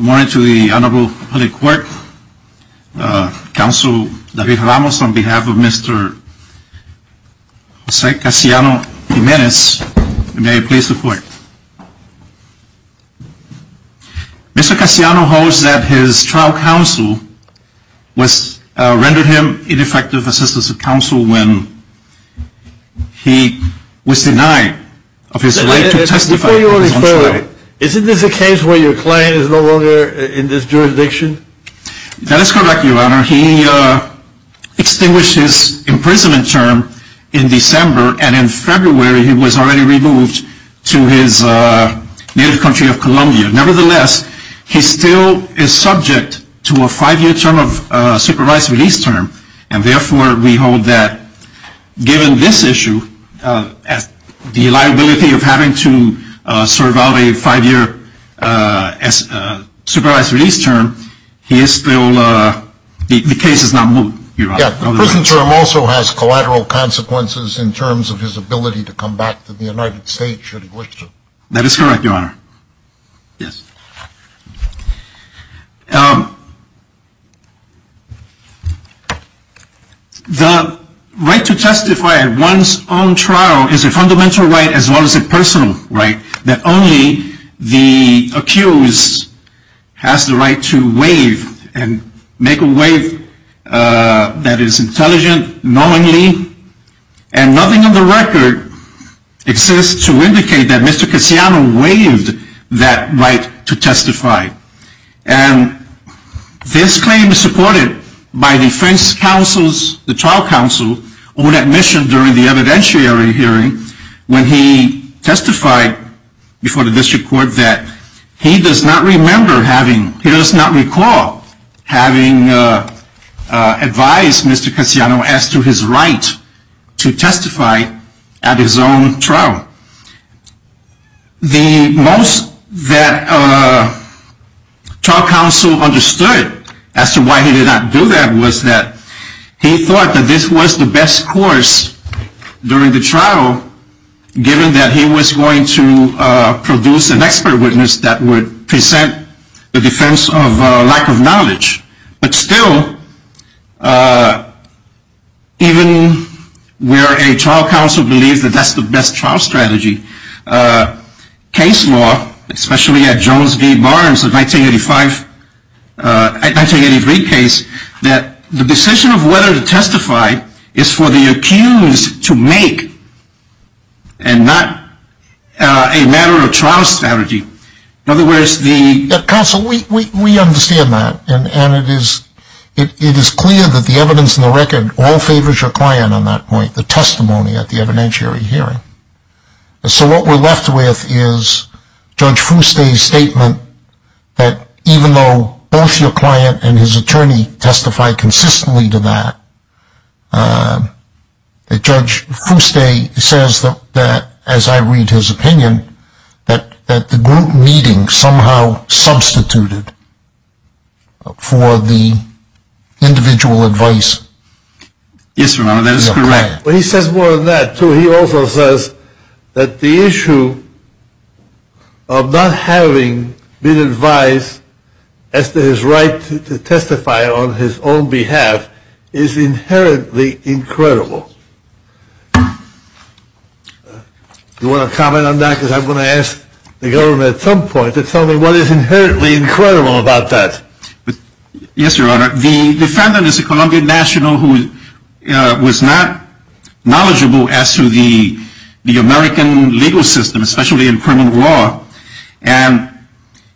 Morning to the Honorable Public Court, Counsel David Ramos on behalf of Mr. Jose Casiano-Jimenez, may I please report? Mr. Casiano holds that his trial counsel rendered him ineffective assistance of counsel when he was denied of his right to testify. Before you refer, isn't this a case where your client is no longer in this jurisdiction? That is correct, Your Honor. He extinguished his imprisonment term in December and in February he was already removed to his native country of Colombia. The prison term also has collateral consequences in terms of his ability to come back to the United States should he wish to. That is correct, Your Honor. The right to testify at one's own trial is a fundamental right as well as a personal right that only the accused has the right to waive and make a waive that is intelligent, knowingly, and nothing in the record exists to indicate that Mr. Casiano waived that right to testify. This claim is supported by defense counsel's trial counsel on admission during the evidentiary hearing when he testified before the district court that he does not recall having advised Mr. Casiano as to his right to testify at his own trial. The most that trial counsel understood as to why he did not do that was that he thought that this was the best course during the trial given that he was going to produce an expert witness that would present the defense of lack of knowledge. But still, even where a trial counsel believes that that's the best trial strategy, case law, especially at Jones v. Barnes, a 1985, a 1983 case, that the decision of whether to testify is for the accused to make and not a matter of trial strategy. Counsel, we understand that and it is clear that the evidence in the record all favors your client on that point, the testimony at the evidentiary hearing. So what we're left with is Judge Fuste's statement that even though both your client and his attorney testified consistently to that, Judge Fuste says that, as I read his opinion, that the group meeting somehow substituted for the individual advice. Yes, Your Honor, that is correct. But he says more than that, too. He also says that the issue of not having been advised as to his right to testify on his own behalf is inherently incredible. Do you want to comment on that? Because I'm going to ask the government at some point to tell me what is inherently incredible about that. Yes, Your Honor, the defendant is a Colombian national who was not knowledgeable as to the American legal system, especially in criminal law. And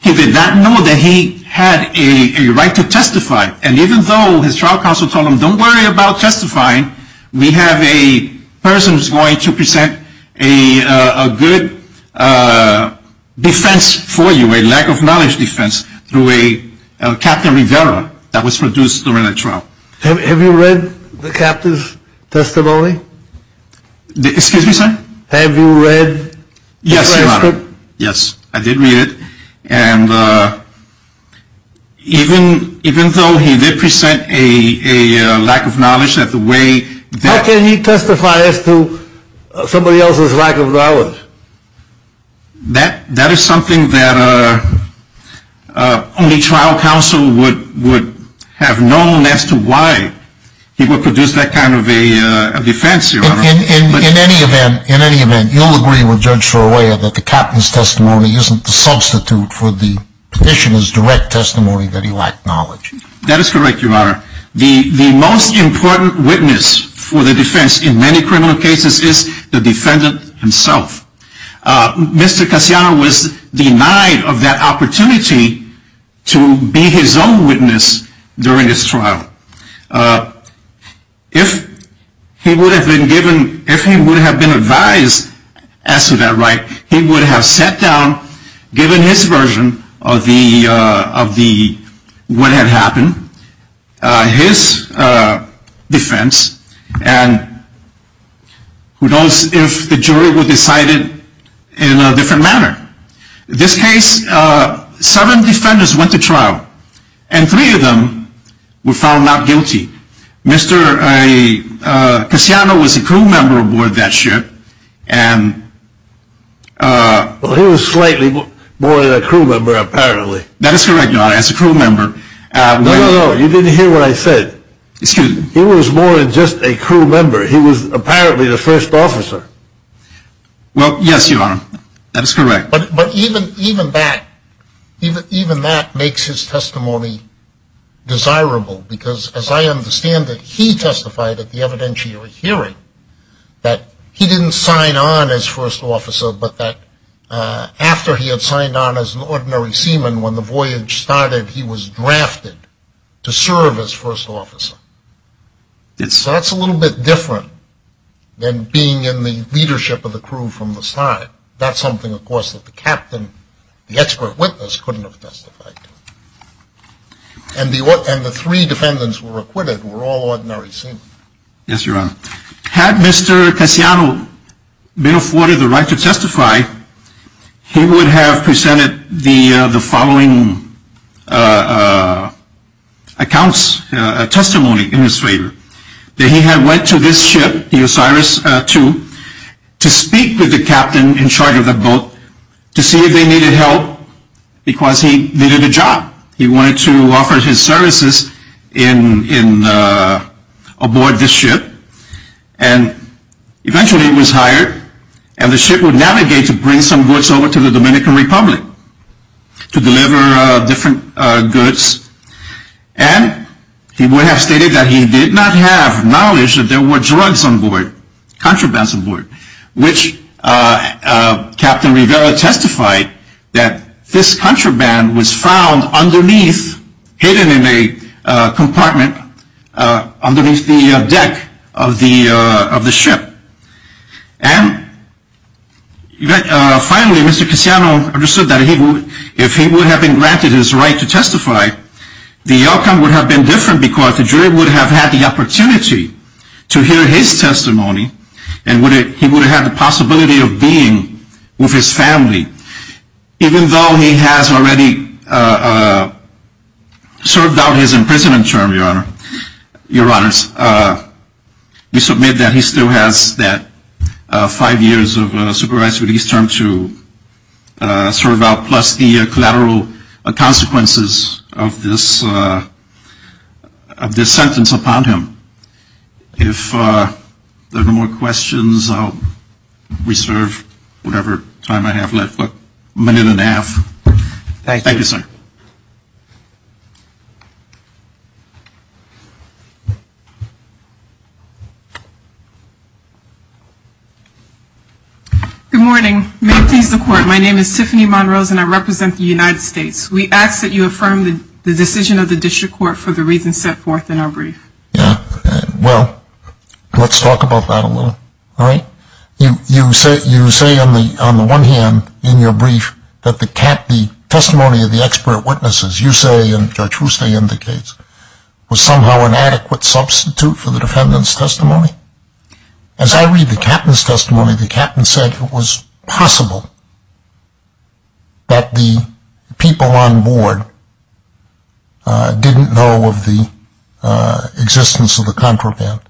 he did not know that he had a right to testify. And even though his trial counsel told him, don't worry about testifying, we have a person who is going to present a good defense for you, a lack of knowledge defense, through a Captain Rivera that was produced during that trial. Have you read the captain's testimony? Excuse me, sir? Have you read the transcript? Yes, Your Honor. Yes, I did read it. And even though he did present a lack of knowledge that the way that… How can he testify as to somebody else's lack of knowledge? That is something that only trial counsel would have known as to why he would produce that kind of a defense, Your Honor. In any event, you'll agree with Judge Sorolla that the captain's testimony isn't the substitute for the petitioner's direct testimony that he lacked knowledge. That is correct, Your Honor. The most important witness for the defense in many criminal cases is the defendant himself. Mr. Cassiano was denied of that opportunity to be his own witness during his trial. If he would have been advised as to that right, he would have sat down, given his version of what had happened, his defense, and who knows if the jury would have decided in a different manner. In this case, seven defendants went to trial, and three of them were found not guilty. Mr. Cassiano was a crew member aboard that ship, and… Well, he was slightly more than a crew member, apparently. That is correct, Your Honor. As a crew member… No, no, no. You didn't hear what I said. Excuse me? He was more than just a crew member. He was apparently the first officer. Well, yes, Your Honor. That is correct. But even that makes his testimony desirable, because as I understand it, he testified at the evidentiary hearing that he didn't sign on as first officer, but that after he had signed on as an ordinary seaman, when the voyage started, he was drafted to serve as first officer. So that's a little bit different than being in the leadership of the crew from the side. That's something, of course, that the captain, the expert witness, couldn't have testified to. And the three defendants who were acquitted were all ordinary seamen. Yes, Your Honor. Had Mr. Cassiano been afforded the right to testify, he would have presented the following accounts, testimony in his favor. That he had went to this ship, the Osiris II, to speak with the captain in charge of the boat to see if they needed help because he needed a job. He wanted to offer his services aboard this ship. And eventually he was hired, and the ship would navigate to bring some goods over to the Dominican Republic to deliver different goods. And he would have stated that he did not have knowledge that there were drugs on board, contrabands on board, which Captain Rivera testified that this contraband was found underneath, hidden in a compartment underneath the deck of the ship. And finally, Mr. Cassiano understood that if he would have been granted his right to testify, the outcome would have been different because the jury would have had the opportunity to hear his testimony, and he would have had the possibility of being with his family. Even though he has already served out his imprisonment term, Your Honors, we submit that he still has that five years of supervised release term to serve out, plus the collateral consequences of this sentence upon him. If there are no more questions, I'll reserve whatever time I have left, a minute and a half. Thank you, sir. Good morning. May it please the Court, my name is Tiffany Monrose and I represent the United States. We ask that you affirm the decision of the District Court for the reasons set forth in our brief. Yeah, well, let's talk about that a little. All right. You say on the one hand in your brief that the testimony of the expert witnesses, you say, and Judge Woostay indicates, was somehow an adequate substitute for the defendant's testimony. As I read the captain's testimony, the captain said it was possible that the people on board didn't know of the existence of the contraband.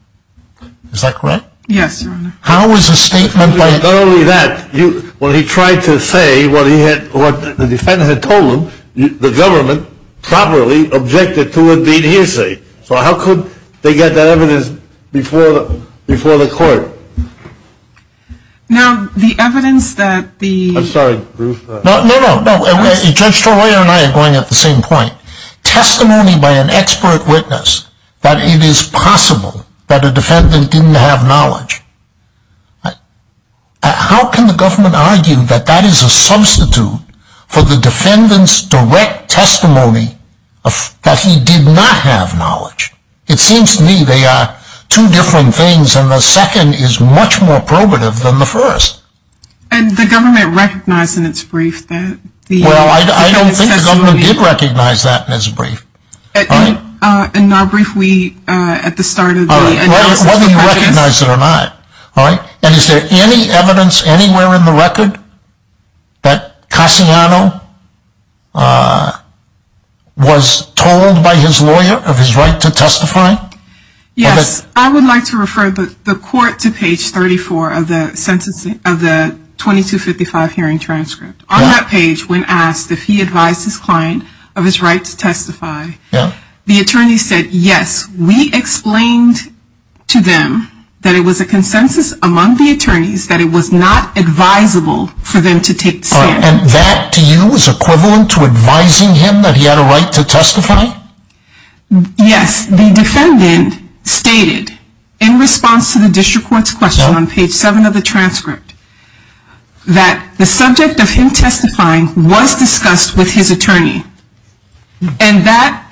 Is that correct? Yes, Your Honor. How is a statement like that? Not only that, when he tried to say what the defendant had told him, the government properly objected to a deed hearsay. So how could they get that evidence before the Court? Now, the evidence that the... I'm sorry, Ruth. No, no, no. Judge Torreira and I are going at the same point. Testimony by an expert witness that it is possible that a defendant didn't have knowledge, how can the government argue that that is a substitute for the defendant's direct testimony that he did not have knowledge? It seems to me they are two different things and the second is much more probative than the first. And the government recognized in its brief that the... Well, I don't think the government did recognize that in its brief. In our brief we, at the start of the... Whether you recognize it or not. And is there any evidence anywhere in the record that Cassiano was told by his lawyer of his right to testify? Yes, I would like to refer the Court to page 34 of the 2255 hearing transcript. On that page, when asked if he advised his client of his right to testify, the attorney said yes. We explained to them that it was a consensus among the attorneys that it was not advisable for them to take the stand. And that to you is equivalent to advising him that he had a right to testify? Yes, the defendant stated in response to the district court's question on page 7 of the transcript that the subject of him testifying was discussed with his attorney. And that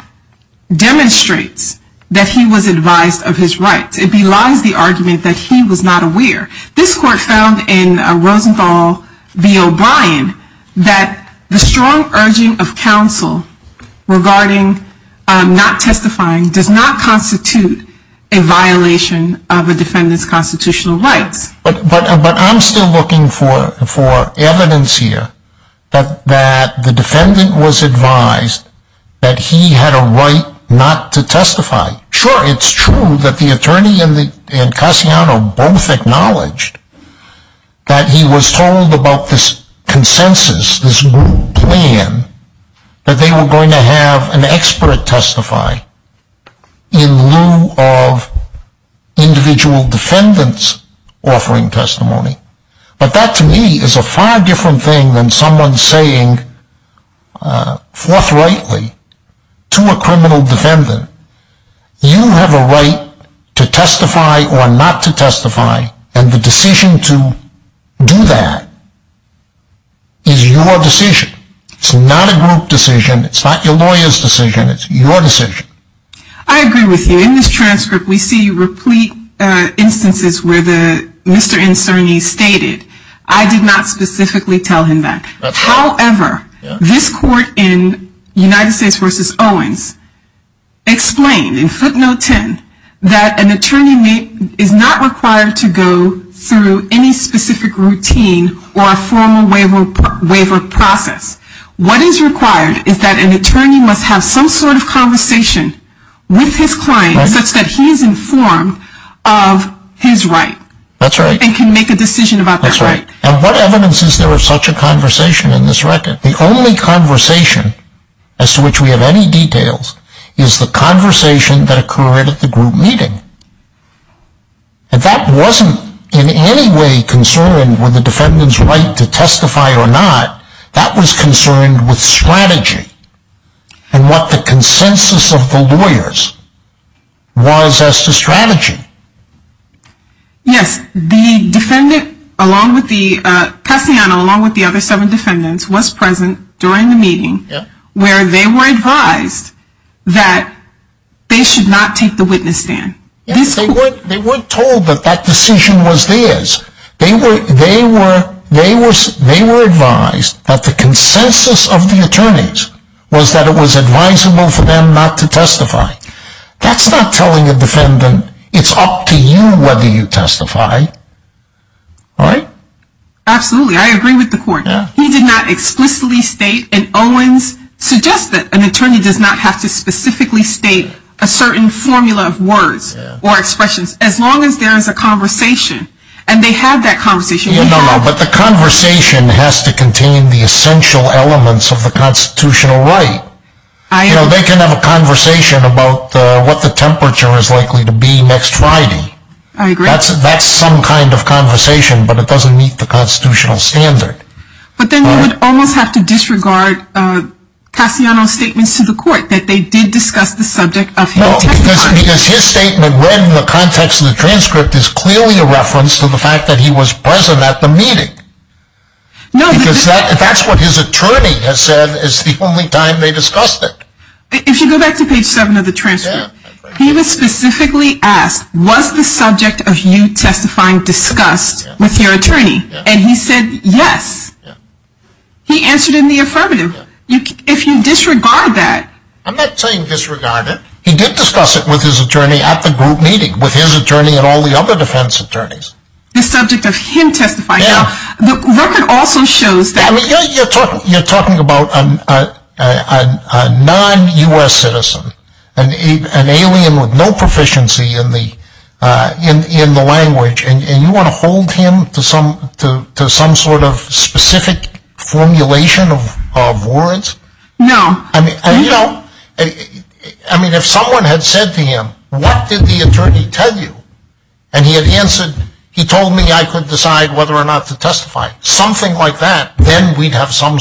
demonstrates that he was advised of his rights. It belies the argument that he was not aware. This court found in Rosenthal v. O'Brien that the strong urging of counsel regarding not testifying does not constitute a violation of a defendant's constitutional rights. But I'm still looking for evidence here that the defendant was advised that he had a right not to testify. Sure, it's true that the attorney and Cassiano both acknowledged that he was told about this consensus, this plan, that they were going to have an expert testify in lieu of individual defendants offering testimony. But that to me is a far different thing than someone saying forthrightly to a criminal defendant, you have a right to testify or not to testify and the decision to do that is your decision. It's not a group decision, it's not your lawyer's decision, it's your decision. I agree with you. In this transcript we see replete instances where Mr. Inserni stated, I did not specifically tell him that. However, this court in United States v. Owens explained in footnote 10 that an attorney is not required to go through any specific routine or a formal waiver process. What is required is that an attorney must have some sort of conversation with his client such that he is informed of his right. That's right. And can make a decision about that right. And what evidence is there of such a conversation in this record? The only conversation as to which we have any details is the conversation that occurred at the group meeting. And that wasn't in any way concerned with the defendant's right to testify or not, that was concerned with strategy and what the consensus of the lawyers was as to strategy. Yes, the defendant along with the other seven defendants was present during the meeting where they were advised that they should not take the witness stand. They weren't told that that decision was theirs. They were advised that the consensus of the attorneys was that it was advisable for them not to testify. That's not telling a defendant it's up to you whether you testify. Right? Absolutely. I agree with the court. He did not explicitly state and Owens suggested that an attorney does not have to specifically state a certain formula of words or expressions as long as there is a conversation. And they had that conversation. But the conversation has to contain the essential elements of the constitutional right. They can have a conversation about what the temperature is likely to be next Friday. I agree. That's some kind of conversation but it doesn't meet the constitutional standard. But then you would almost have to disregard Cassiano's statements to the court that they did discuss the subject of his testimony. Because his statement read in the context of the transcript is clearly a reference to the fact that he was present at the meeting. Because that's what his attorney has said is the only time they discussed it. If you go back to page 7 of the transcript, he was specifically asked was the subject of you testifying discussed with your attorney? And he said yes. He answered in the affirmative. If you disregard that. I'm not saying disregard it. He did discuss it with his attorney at the group meeting with his attorney and all the other defense attorneys. The subject of him testifying. The record also shows that. You're talking about a non-U.S. citizen. An alien with no proficiency in the language. And you want to hold him to some sort of specific formulation of words? No. I mean if someone had said to him what did the attorney tell you? And he had answered he told me I could decide whether or not to testify. Something like that. Then we'd have some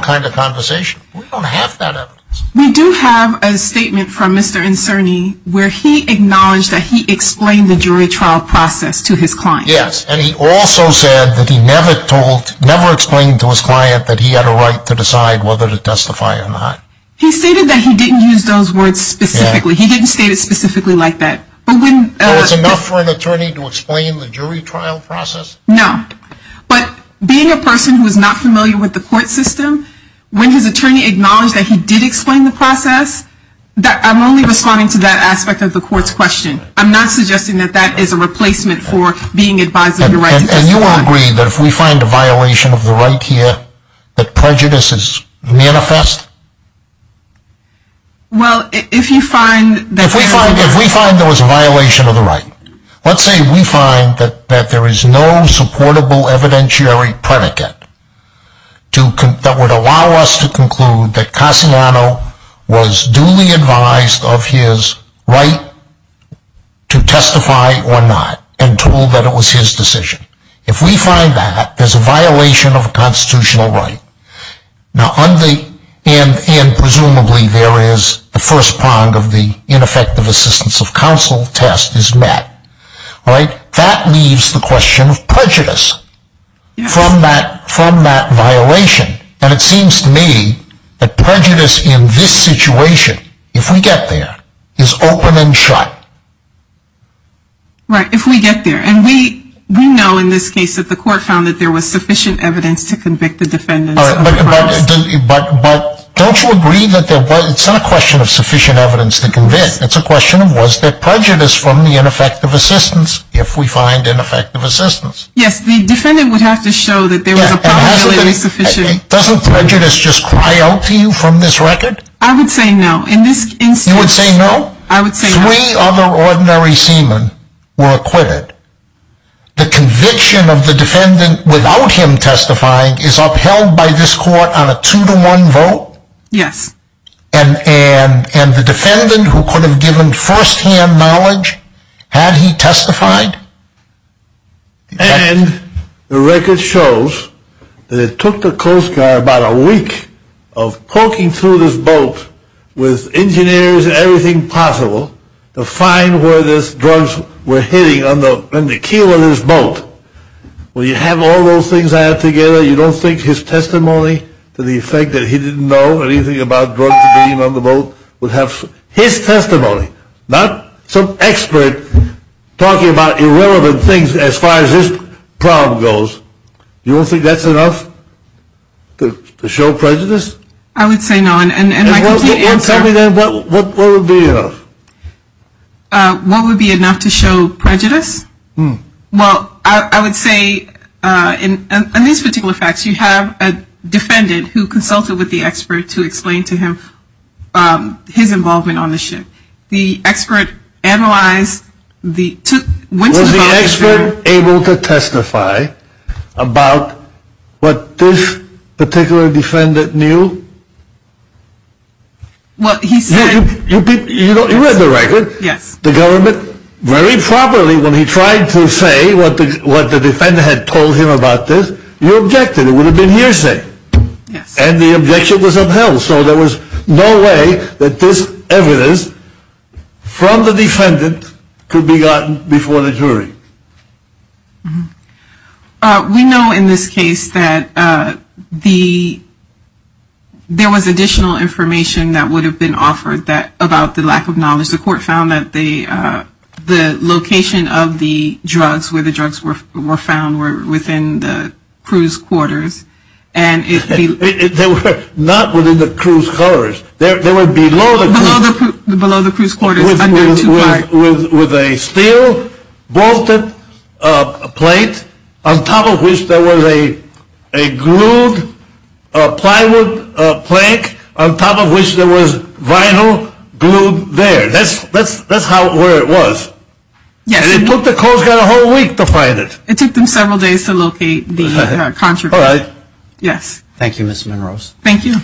kind of conversation. We don't have that evidence. We do have a statement from Mr. Inserni where he acknowledged that he explained the jury trial process to his client. Yes. And he also said that he never explained to his client that he had a right to decide whether to testify or not. He stated that he didn't use those words specifically. He didn't state it specifically like that. So it's enough for an attorney to explain the jury trial process? No. But being a person who is not familiar with the court system, when his attorney acknowledged that he did explain the process, I'm only responding to that aspect of the court's question. I'm not suggesting that that is a replacement for being advised of the right to testify. And you agree that if we find a violation of the right here that prejudice is manifest? Well, if you find that... If we find there was a violation of the right, let's say we find that there is no supportable evidentiary predicate that would allow us to conclude that Cassiano was duly advised of his right to testify or not and told that it was his decision. If we find that, there's a violation of a constitutional right. And presumably there is the first prong of the ineffective assistance of counsel test is met. That leaves the question of prejudice from that violation. And it seems to me that prejudice in this situation, if we get there, is open and shut. Right, if we get there. And we know in this case that the court found that there was sufficient evidence to convict the defendant. But don't you agree that it's not a question of sufficient evidence to convict, it's a question of was there prejudice from the ineffective assistance, if we find ineffective assistance? Yes, the defendant would have to show that there was a probability that it was sufficient. Doesn't prejudice just cry out to you from this record? I would say no. You would say no? I would say no. Three other ordinary seamen were acquitted. The conviction of the defendant without him testifying is upheld by this court on a two to one vote? Yes. And the defendant who could have given first hand knowledge, had he testified? And the record shows that it took the Coast Guard about a week of poking through this boat with engineers and everything possible to find where these drugs were hitting on the keel of this boat. When you have all those things added together, you don't think his testimony to the effect that he didn't know anything about drugs being on the boat, would have his testimony? Not some expert talking about irrelevant things as far as this problem goes. You don't think that's enough to show prejudice? I would say no. Tell me then, what would be enough? What would be enough to show prejudice? Well, I would say in these particular facts, you have a defendant who consulted with the expert to explain to him his involvement on the ship. Was the expert able to testify about what this particular defendant knew? Well, he said... You read the record. Yes. The government, very properly, when he tried to say what the defendant had told him about this, you objected. It would have been hearsay. Yes. And the objection was upheld. So there was no way that this evidence from the defendant could be gotten before the jury. We know in this case that there was additional information that would have been offered about the lack of knowledge. The court found that the location of the drugs, where the drugs were found, were within the cruise quarters. They were not within the cruise quarters. They were below the cruise quarters. Below the cruise quarters. With a steel bolted plate on top of which there was a glued plywood plank on top of which there was vinyl glued there. That's where it was. Yes. And it took the Coast Guard a whole week to find it. It took them several days to locate the contraband. All right. Yes. Thank you, Ms. Munrose. Thank you.